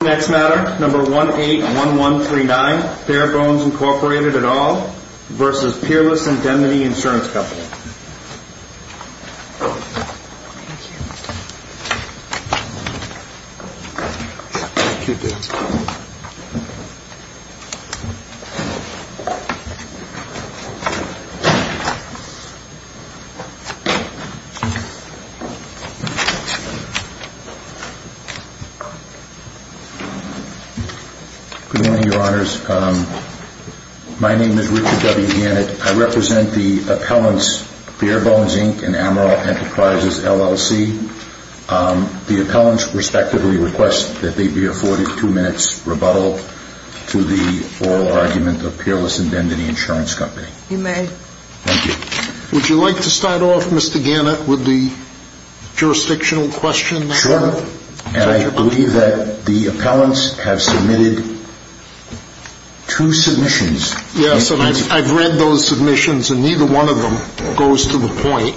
181139 Fairbones, Inc. v. Peerless Indemnity Insurance Good morning, Your Honors. My name is Richard W. Gannett. I represent the appellants Fairbones, Inc. and Amaral Enterprises, LLC. The appellants respectively request that they be afforded two minutes rebuttal to the oral argument of Peerless Indemnity Insurance Company. You may. Thank you. Would you like to start off, Mr. Gannett, with the jurisdictional question? Sure. And I believe that the appellants have submitted two submissions. Yes, and I've read those submissions, and neither one of them goes to the point.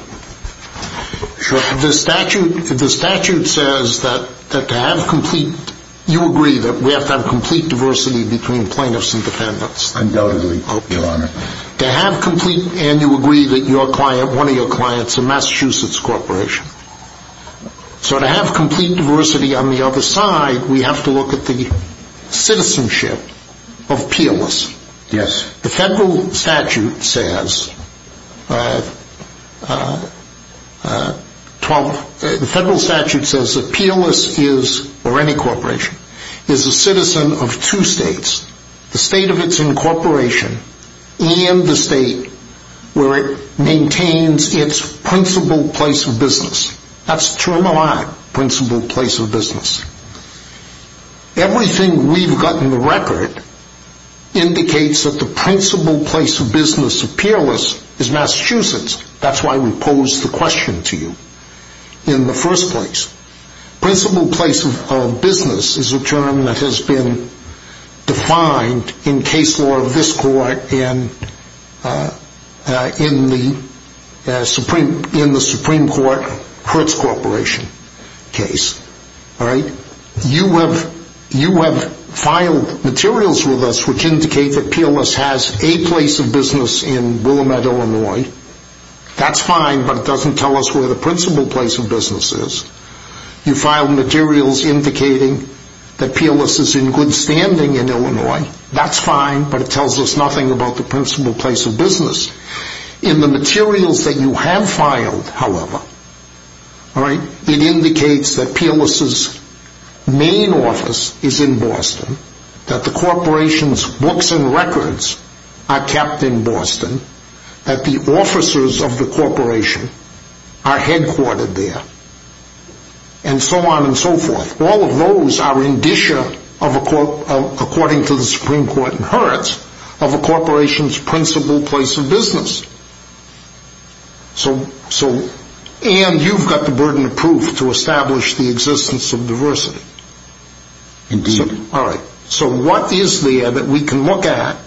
Sure. The statute says that to have complete – you agree that we have to have complete diversity between plaintiffs and defendants. Undoubtedly, Your Honor. To have complete – and you agree that your client, one of your clients, is a Massachusetts corporation. So to have complete diversity on the other side, we have to look at the citizenship of Peerless. Yes. The federal statute says that Peerless is, or any corporation, is a citizen of two states. The state of its incorporation and the state where it maintains its principal place of business. That's the term of my principal place of business. Everything we've got in the record indicates that the principal place of business of Peerless is Massachusetts. That's why we pose the question to you in the first place. Principal place of business is a term that has been defined in case law of this court in the Supreme Court Hertz Corporation case. All right? You have filed materials with us which indicate that Peerless has a place of business in Willamette, Illinois. That's fine, but it doesn't tell us where the principal place of business is. You filed materials indicating that Peerless is in good standing in Illinois. That's fine, but it tells us nothing about the principal place of business. In the materials that you have filed, however, it indicates that Peerless' main office is in Boston, that the corporation's books and records are kept in Boston, that the officers of the corporation are headquartered there, and so on and so forth. All of those are indicia, according to the Supreme Court in Hertz, of a corporation's principal place of business. And you've got the burden of proof to establish the existence of diversity. Indeed. All right. So what is there that we can look at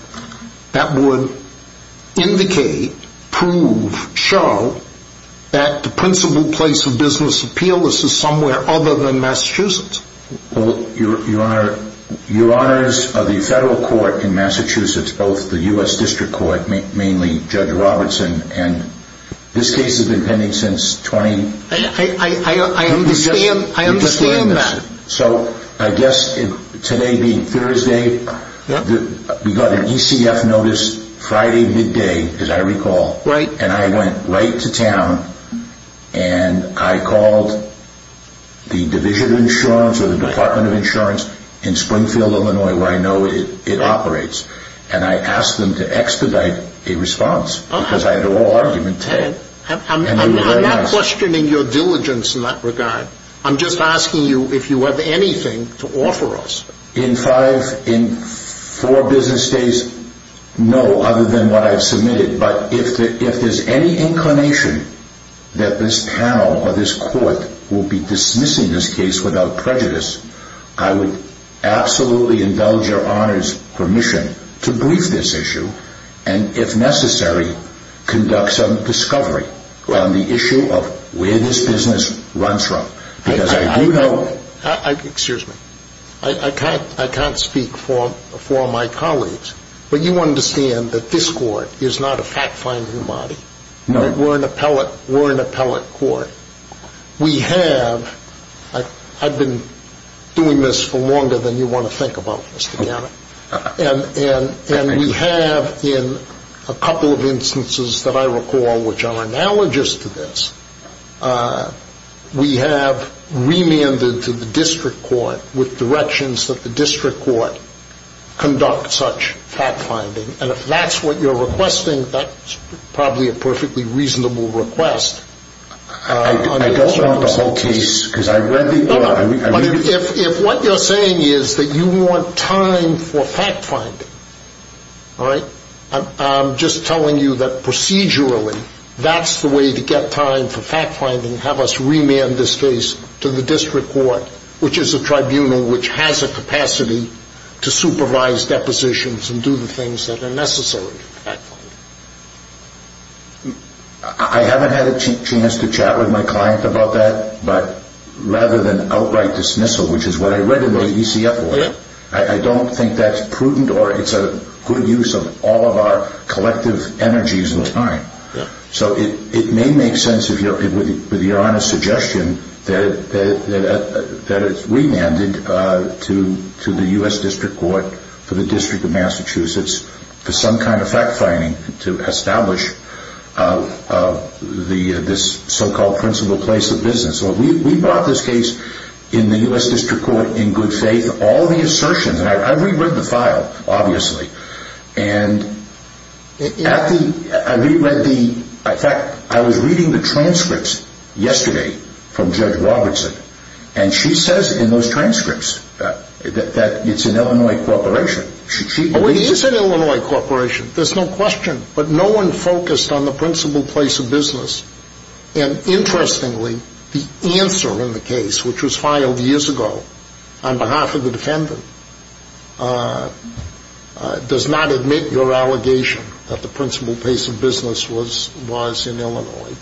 that would indicate, prove, show, that the principal place of business of Peerless is somewhere other than Massachusetts? Well, Your Honor, Your Honors, of the federal court in Massachusetts, both the U.S. District Court, mainly Judge Robertson, and this case has been pending since 2010. I understand that. So I guess today being Thursday, we got an ECF notice Friday midday, as I recall. Right. And I went right to town and I called the Division of Insurance or the Department of Insurance in Springfield, Illinois, where I know it operates, and I asked them to expedite a response because I had a raw argument to it. And they were very nice. I'm not questioning your diligence in that regard. I'm just asking you if you have anything to offer us. In five, in four business days, no, other than what I've submitted. But if there's any inclination that this panel or this court will be dismissing this case without prejudice, I would absolutely indulge Your Honor's permission to brief this issue and, if necessary, conduct some discovery on the issue of where this business runs from. Because I do know... Excuse me. I can't speak for my colleagues, but you understand that this court is not a fact-finding body. No. We're an appellate court. We have... I've been doing this for longer than you want to think about this, Your Honor. And we have, in a couple of instances that I recall which are analogous to this, we have remanded to the district court with directions that the district court conduct such fact-finding. And if that's what you're requesting, that's probably a perfectly reasonable request. I don't want the whole case, because I read the... No, but if what you're saying is that you want time for fact-finding, all right, I'm just telling you that procedurally that's the way to get time for fact-finding, have us remand this case to the district court, which is a tribunal which has a capacity to supervise depositions and do the things that are necessary for fact-finding. I haven't had a chance to chat with my client about that, but rather than outright dismissal, which is what I read in the ECF law, I don't think that's prudent or it's a good use of all of our collective energies and time. So it may make sense, with your honest suggestion, that it's remanded to the U.S. District Court for the District of Massachusetts for some kind of fact-finding to establish this so-called principal place of business. We brought this case in the U.S. District Court in good faith. I reread the file, obviously, and I was reading the transcripts yesterday from Judge Robertson, and she says in those transcripts that it's an Illinois corporation. It is an Illinois corporation, there's no question, but no one focused on the principal place of business. And interestingly, the answer in the case, which was filed years ago on behalf of the defendant, does not admit your allegation that the principal place of business was in Illinois.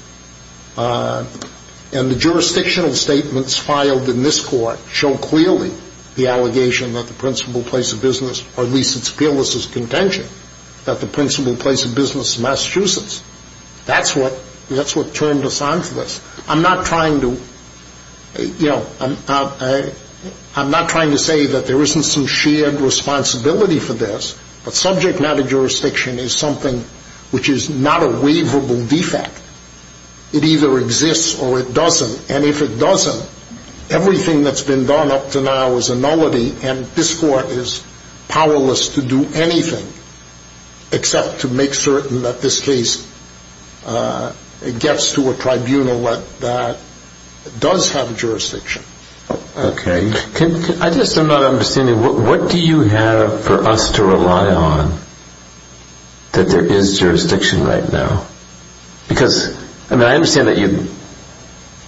And the jurisdictional statements filed in this court show clearly the allegation that the principal place of business, or at least its fearless contention, that the principal place of business is Massachusetts. That's what turned us on to this. I'm not trying to say that there isn't some shared responsibility for this, but subject matter jurisdiction is something which is not a waverable defect. It either exists or it doesn't, and if it doesn't, everything that's been done up to now is a nullity, and this court is powerless to do anything except to make certain that this case gets to a tribunal that does have jurisdiction. Okay. I just am not understanding, what do you have for us to rely on that there is jurisdiction right now? Because, I mean, I understand that you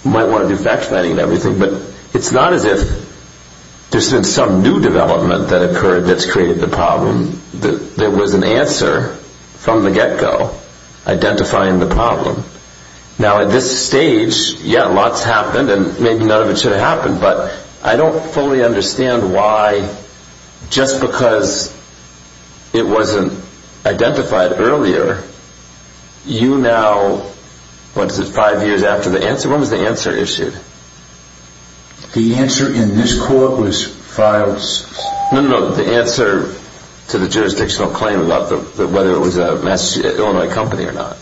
might want to do fact finding and everything, but it's not as if there's been some new development that occurred that's created the problem. There was an answer from the get-go identifying the problem. Now, at this stage, yeah, a lot's happened, and maybe none of it should have happened, but I don't fully understand why, just because it wasn't identified earlier, you now, what is it, five years after the answer? When was the answer issued? The answer in this court was filed... No, no, no, the answer to the jurisdictional claim about whether it was an Illinois company or not.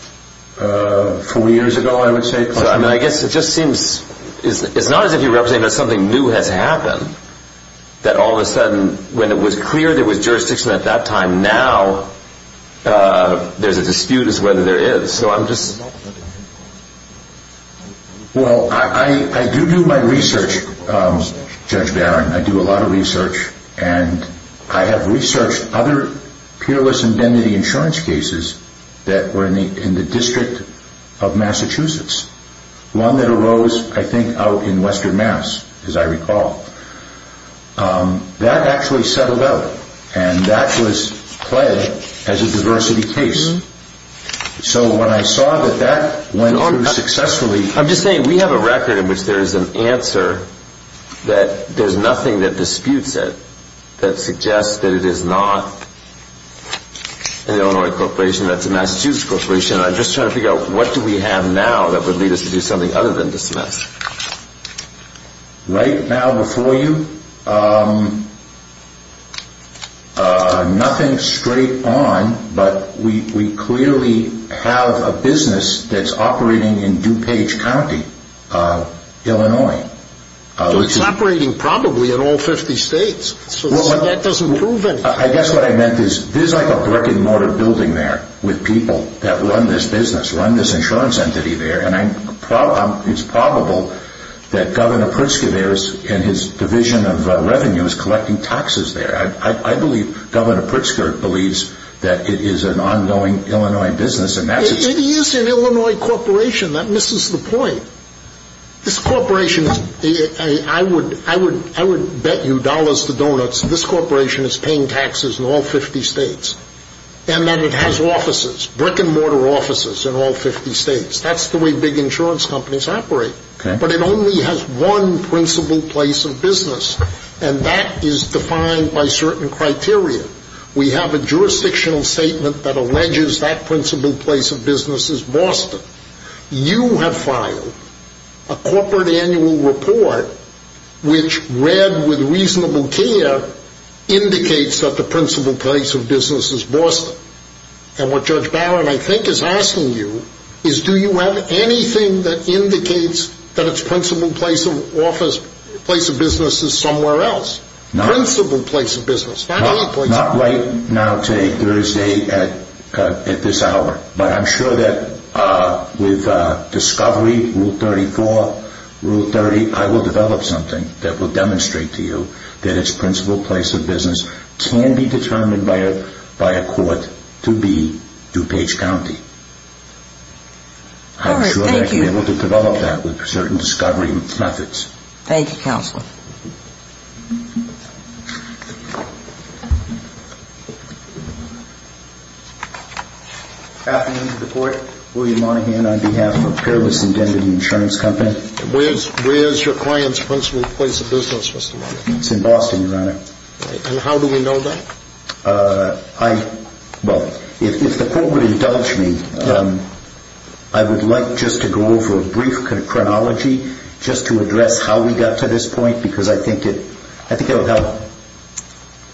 Four years ago, I would say. I guess it just seems, it's not as if you're representing that something new has happened, that all of a sudden, when it was clear there was jurisdiction at that time, now there's a dispute as to whether there is, so I'm just... Well, I do do my research, Judge Barron, I do a lot of research, and I have researched other peerless indemnity insurance cases that were in the District of Massachusetts. One that arose, I think, out in Western Mass, as I recall. That actually settled out, and that was pledged as a diversity case. So when I saw that that went through successfully... I'm just saying, we have a record in which there is an answer that there's nothing that disputes it, that suggests that it is not an Illinois corporation, that's a Massachusetts corporation, and I'm just trying to figure out, what do we have now that would lead us to do something other than dismiss? Right now, before you, nothing straight on, but we clearly have a business that's operating in DuPage County, Illinois. So it's operating probably in all 50 states, so that doesn't prove it. I guess what I meant is, there's like a brick and mortar building there, with people that run this business, run this insurance entity there, and it's probable that Governor Pritzker there, and his division of revenue is collecting taxes there. I believe Governor Pritzker believes that it is an ongoing Illinois business, and that's... It is an Illinois corporation, that misses the point. This corporation, I would bet you dollars to donuts, this corporation is paying taxes in all 50 states, and that it has offices, brick and mortar offices in all 50 states. That's the way big insurance companies operate, but it only has one principal place of business, and that is defined by certain criteria. We have a jurisdictional statement that alleges that principal place of business is Boston. You have filed a corporate annual report, which read with reasonable care, indicates that the principal place of business is Boston. And what Judge Barron, I think, is asking you, is do you have anything that indicates that its principal place of business is somewhere else? Not right now today, Thursday, at this hour. But I'm sure that with discovery, Rule 34, Rule 30, I will develop something that will demonstrate to you that its principal place of business can be determined by a court to be DuPage County. I'm sure I can be able to develop that with certain discovery methods. Thank you, Counselor. Good afternoon to the Court. William Monaghan on behalf of Perilous Indebted Insurance Company. Where is your client's principal place of business, Mr. Monaghan? It's in Boston, Your Honor. And how do we know that? Well, if the Court would indulge me, I would like just to go over a brief chronology, just to address how we got to this point, because I think it will help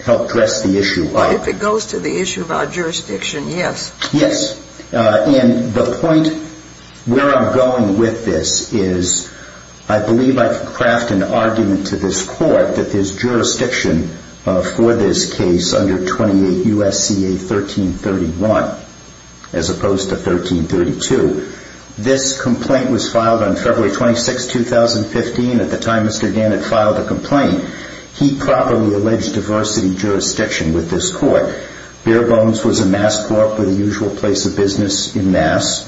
address the issue. Well, if it goes to the issue of our jurisdiction, yes. Yes. And the point where I'm going with this is I believe I can craft an argument to this Court that there's jurisdiction for this case under 28 U.S.C.A. 1331, as opposed to 1332. This complaint was filed on February 26, 2015. At the time Mr. Gannett filed the complaint, he properly alleged diversity jurisdiction with this Court. Bare Bones was a Mass Corp with a usual place of business in Mass.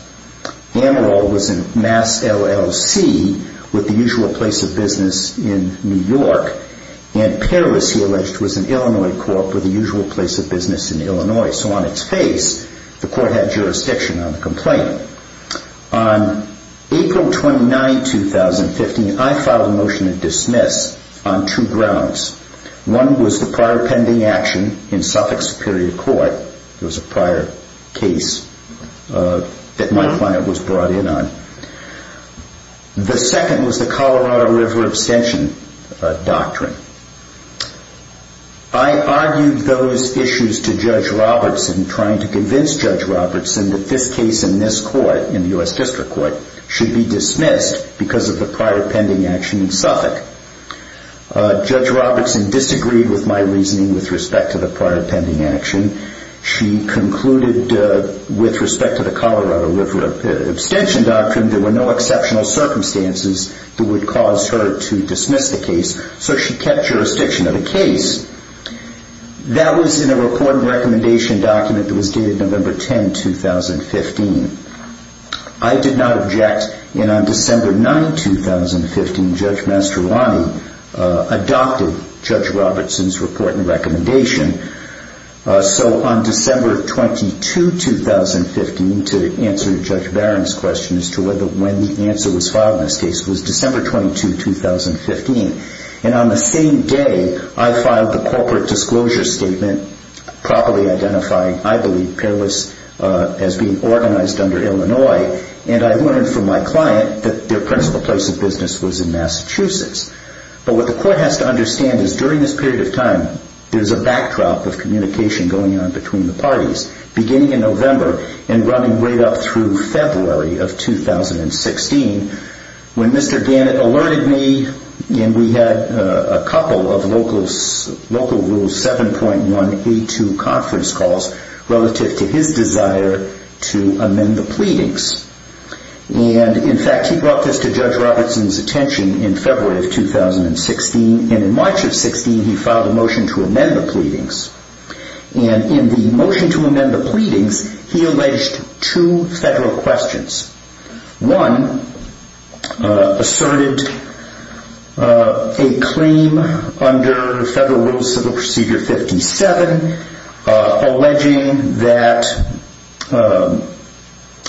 Amaral was a Mass LLC with the usual place of business in New York. And Perilous, he alleged, was an Illinois Corp with a usual place of business in Illinois. So on its face, the Court had jurisdiction on the complaint. On April 29, 2015, I filed a motion to dismiss on two grounds. One was the prior pending action in Suffolk Superior Court. It was a prior case that my client was brought in on. The second was the Colorado River abstention doctrine. I argued those issues to Judge Robertson, trying to convince Judge Robertson that this case in this Court, in the U.S. District Court, should be dismissed because of the prior pending action in Suffolk. Judge Robertson disagreed with my reasoning with respect to the prior pending action. She concluded with respect to the Colorado River abstention doctrine there were no exceptional circumstances that would cause her to dismiss the case. So she kept jurisdiction of the case. That was in a report and recommendation document that was dated November 10, 2015. I did not object, and on December 9, 2015, Judge Mastroianni adopted Judge Robertson's report and recommendation. So on December 22, 2015, to answer Judge Barron's question as to when the answer was filed in this case was December 22, 2015. And on the same day, I filed the corporate disclosure statement properly identifying, I believe, Perilous as being organized under Illinois. And I learned from my client that their principal place of business was in Massachusetts. But what the Court has to understand is during this period of time, beginning in November and running right up through February of 2016, when Mr. Gannett alerted me and we had a couple of local rules 7.1A2 conference calls relative to his desire to amend the pleadings. And, in fact, he brought this to Judge Robertson's attention in February of 2016. And in March of 2016, he filed a motion to amend the pleadings. And in the motion to amend the pleadings, he alleged two federal questions. One asserted a claim under Federal Rule of Civil Procedure 57, alleging that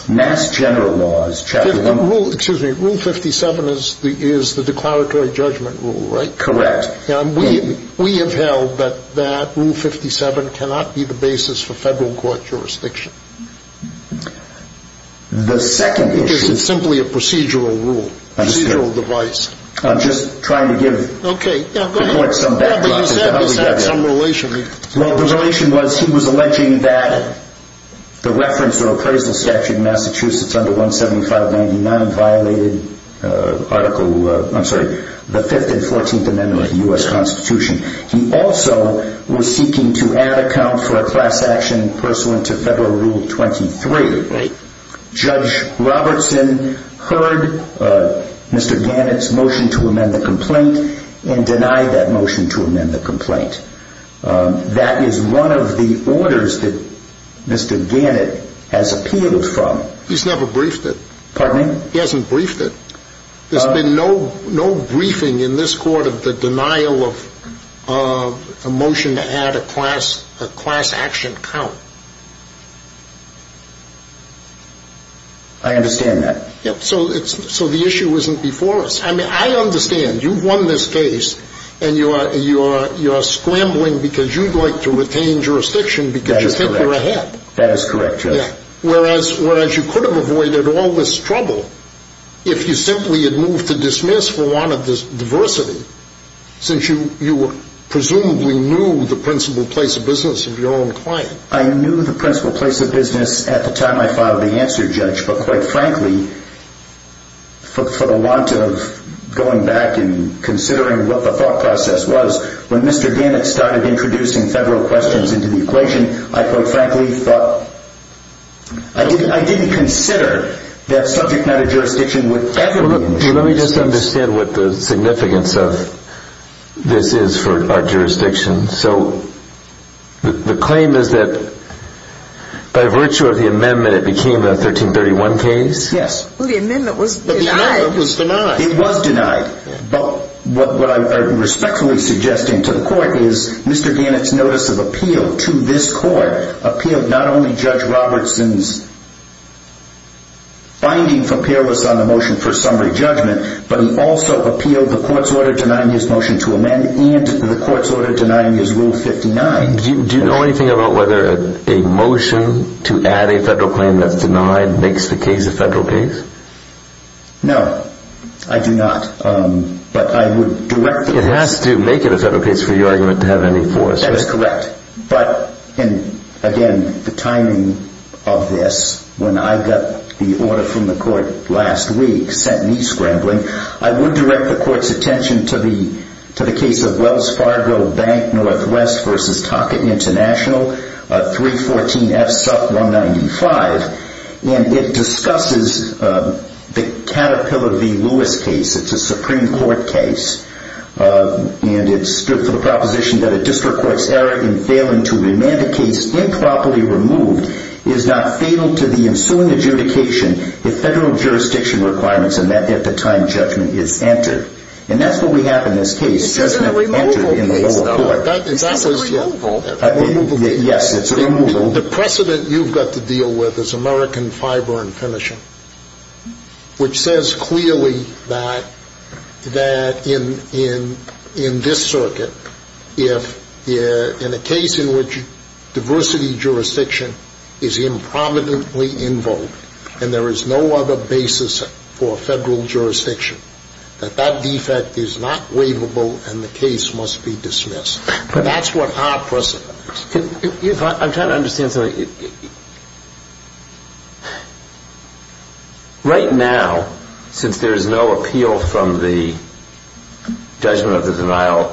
Mass General Law is chapter 1. Excuse me. Rule 57 is the declaratory judgment rule, right? Correct. We have held that Rule 57 cannot be the basis for federal court jurisdiction. The second issue is simply a procedural rule, procedural device. I'm just trying to give the Court some background. Okay. Go ahead. But you said this had some relation. Well, the relation was he was alleging that the reference to an appraisal statute in Massachusetts under 17599 violated Article, I'm sorry, the Fifth and Fourteenth Amendments of the U.S. Constitution. He also was seeking to add a count for a class action pursuant to Federal Rule 23. Right. Judge Robertson heard Mr. Gannett's motion to amend the complaint and denied that motion to amend the complaint. That is one of the orders that Mr. Gannett has appealed from. He's never briefed it. Pardon? He hasn't briefed it. There's been no briefing in this Court of the denial of a motion to add a class action count. I understand that. So the issue isn't before us. I mean, I understand. You've won this case, and you're scrambling because you'd like to retain jurisdiction because you think you're ahead. That is correct, Judge. Whereas you could have avoided all this trouble if you simply had moved to dismiss for want of diversity since you presumably knew the principal place of business of your own client. I knew the principal place of business at the time I filed the answer, Judge, but quite frankly, for the want of going back and considering what the thought process was, when Mr. Gannett started introducing Federal questions into the equation, I quite frankly thought – I didn't consider that subject matter jurisdiction would – Let me just understand what the significance of this is for our jurisdiction. So the claim is that by virtue of the amendment, it became a 1331 case? Yes. Well, the amendment was denied. It was denied. But what I'm respectfully suggesting to the court is Mr. Gannett's notice of appeal to this court appealed not only Judge Robertson's finding from peerless on the motion for summary judgment, but he also appealed the court's order denying his motion to amend and the court's order denying his Rule 59. Do you know anything about whether a motion to add a Federal claim that's denied makes the case a Federal case? No, I do not. But I would direct the – It has to make it a Federal case for your argument to have any force, right? That is correct. But again, the timing of this, when I got the order from the court last week sent me scrambling. I would direct the court's attention to the case of Wells Fargo Bank Northwest v. Tockett International, 314 F. Sup. 195. And it discusses the Caterpillar v. Lewis case. It's a Supreme Court case. And it's for the proposition that a district court's error in failing to amend a case improperly removed is not fatal to the ensuing adjudication if Federal jurisdiction requirements and that at the time judgment is entered. And that's what we have in this case. It says in the removal case, though. That's a removal case. Yes, it's a removal. The precedent you've got to deal with is American fiber and finishing, which says clearly that in this circuit, if in a case in which diversity jurisdiction is improminently invoked and there is no other basis for Federal jurisdiction, that that defect is not waivable and the case must be dismissed. But that's what our precedent is. I'm trying to understand something. Right now, since there is no appeal from the judgment of the denial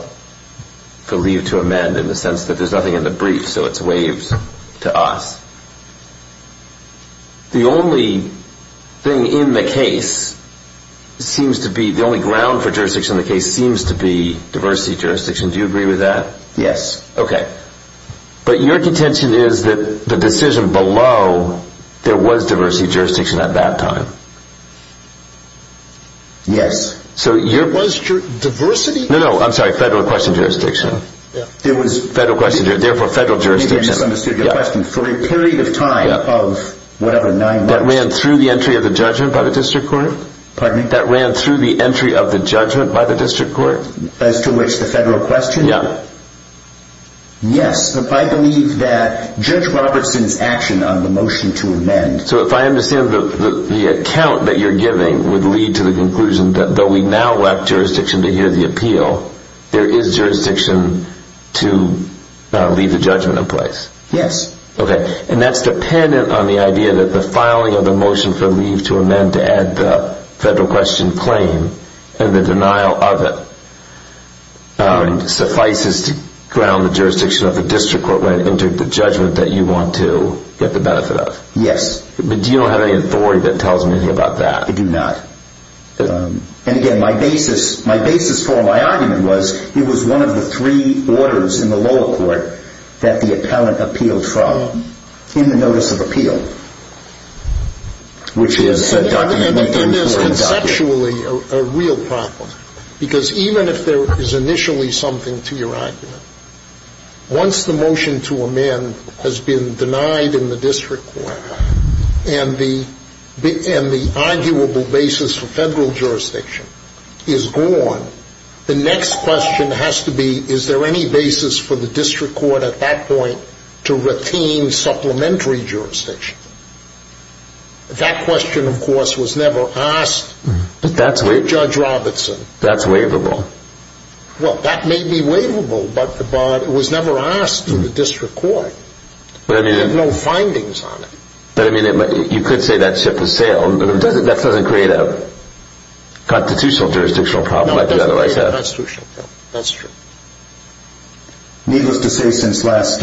for leave to amend in the sense that there's nothing in the brief, so it's waived to us, the only thing in the case seems to be, the only ground for jurisdiction in the case seems to be diversity jurisdiction. Do you agree with that? Yes. Okay. But your contention is that the decision below, there was diversity jurisdiction at that time. Yes. So your... Was diversity... No, no, I'm sorry, Federal question jurisdiction. Yeah. It was... Federal question, therefore Federal jurisdiction. Maybe I misunderstood your question. For a period of time of whatever, nine months... That ran through the entry of the judgment by the district court? Pardon me? That ran through the entry of the judgment by the district court? As to which the Federal question? Yeah. Yes. If I believe that Judge Robertson's action on the motion to amend... So if I understand the account that you're giving would lead to the conclusion that though we now elect jurisdiction to hear the appeal, there is jurisdiction to leave the judgment in place? Yes. Okay. And that's dependent on the idea that the filing of the motion for leave to amend to add the Federal question claim and the denial of it suffices to ground the jurisdiction of the district court when it entered the judgment that you want to get the benefit of? Yes. But do you not have any authority that tells me anything about that? I do not. And, again, my basis for my argument was it was one of the three orders in the lower court that the appellant appealed from in the notice of appeal, which is a document... Then there's conceptually a real problem. Because even if there is initially something to your argument, once the motion to amend has been denied in the district court and the arguable basis for Federal jurisdiction is gone, the next question has to be, is there any basis for the district court at that point to retain supplementary jurisdiction? That question, of course, was never asked to Judge Robertson. But that's waivable. Well, that may be waivable, but it was never asked to the district court. They have no findings on it. But, I mean, you could say that ship has sailed, but that doesn't create a constitutional jurisdictional problem like you otherwise have. No, it doesn't create a constitutional problem. That's true. Needless to say, since last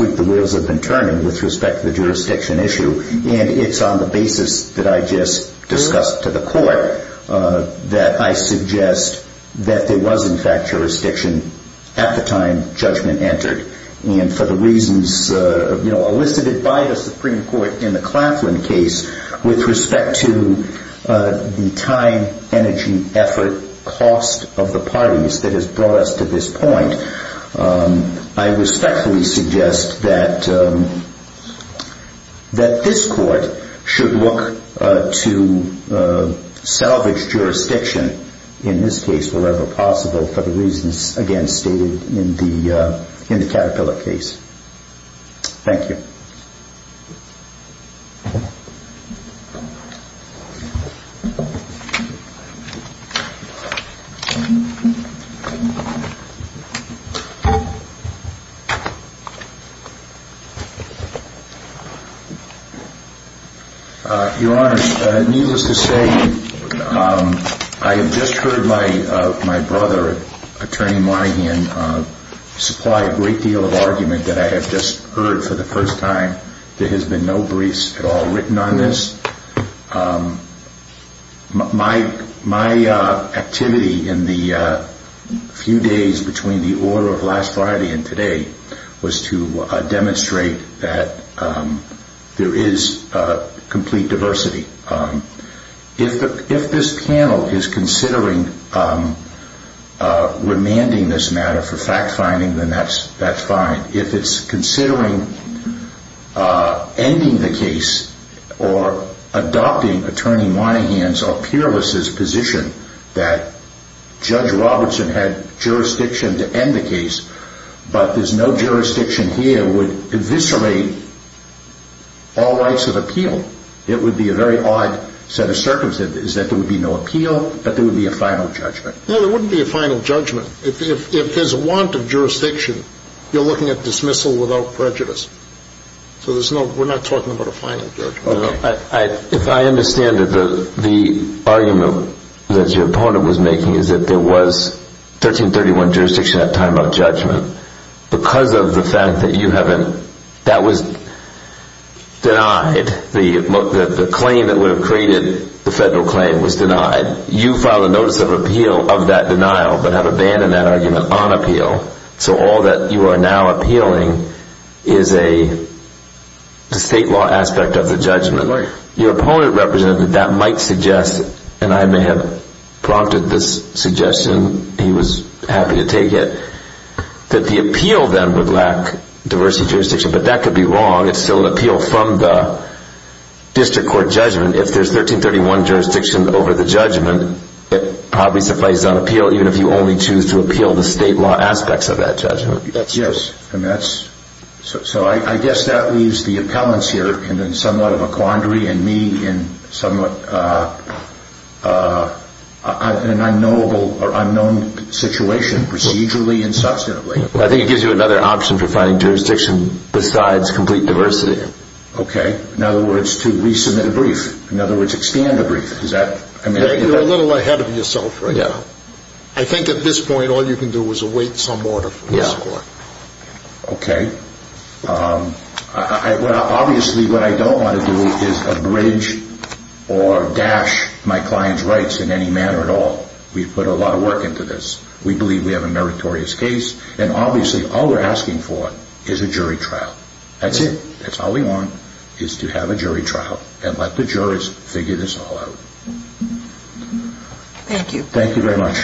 week, the wheels have been turning with respect to the jurisdiction issue. And it's on the basis that I just discussed to the court that I suggest that there was, in fact, jurisdiction at the time judgment entered. And for the reasons elicited by the Supreme Court in the Claflin case with respect to the time, energy, effort, cost of the parties that has brought us to this point, I respectfully suggest that this court should look to salvage jurisdiction, in this case, wherever possible, for the reasons, again, stated in the Caterpillar case. Thank you. Your Honor, needless to say, I have just heard my brother, Attorney Moynihan, supply a great deal of argument that I have just heard for the first time. There has been no briefs at all written on this. My activity in the few days between the order of last Friday and today was to demonstrate that there is complete diversity. If this panel is considering remanding this matter for fact-finding, then that's fine. If it's considering ending the case or adopting Attorney Moynihan's or Peerless' position that Judge Robertson had jurisdiction to end the case, but there's no jurisdiction here, would eviscerate all rights of appeal. It would be a very odd set of circumstances that there would be no appeal, but there would be a final judgment. No, there wouldn't be a final judgment. If there's a want of jurisdiction, you're looking at dismissal without prejudice. So we're not talking about a final judgment. If I understand it, the argument that your opponent was making is that there was 1331 jurisdiction at the time of judgment. That was denied. The claim that would have created the federal claim was denied. You filed a notice of appeal of that denial, but have abandoned that argument on appeal. So all that you are now appealing is a state law aspect of the judgment. Your opponent represented that might suggest, and I may have prompted this suggestion, he was happy to take it, that the appeal then would lack diversity of jurisdiction. But that could be wrong. It's still an appeal from the district court judgment. If there's 1331 jurisdiction over the judgment, it probably suffices on appeal, even if you only choose to appeal the state law aspects of that judgment. So I guess that leaves the appellants here in somewhat of a quandary, and me in an unknown situation procedurally and substantively. I think it gives you another option for finding jurisdiction besides complete diversity. Okay. In other words, to resubmit a brief. In other words, expand a brief. You're a little ahead of yourself right now. I think at this point all you can do is await some order from the district court. Okay. Obviously what I don't want to do is abridge or dash my client's rights in any manner at all. We've put a lot of work into this. We believe we have a meritorious case, and obviously all we're asking for is a jury trial. That's it. That's all we want, is to have a jury trial and let the jurors figure this all out. Thank you. Thank you very much.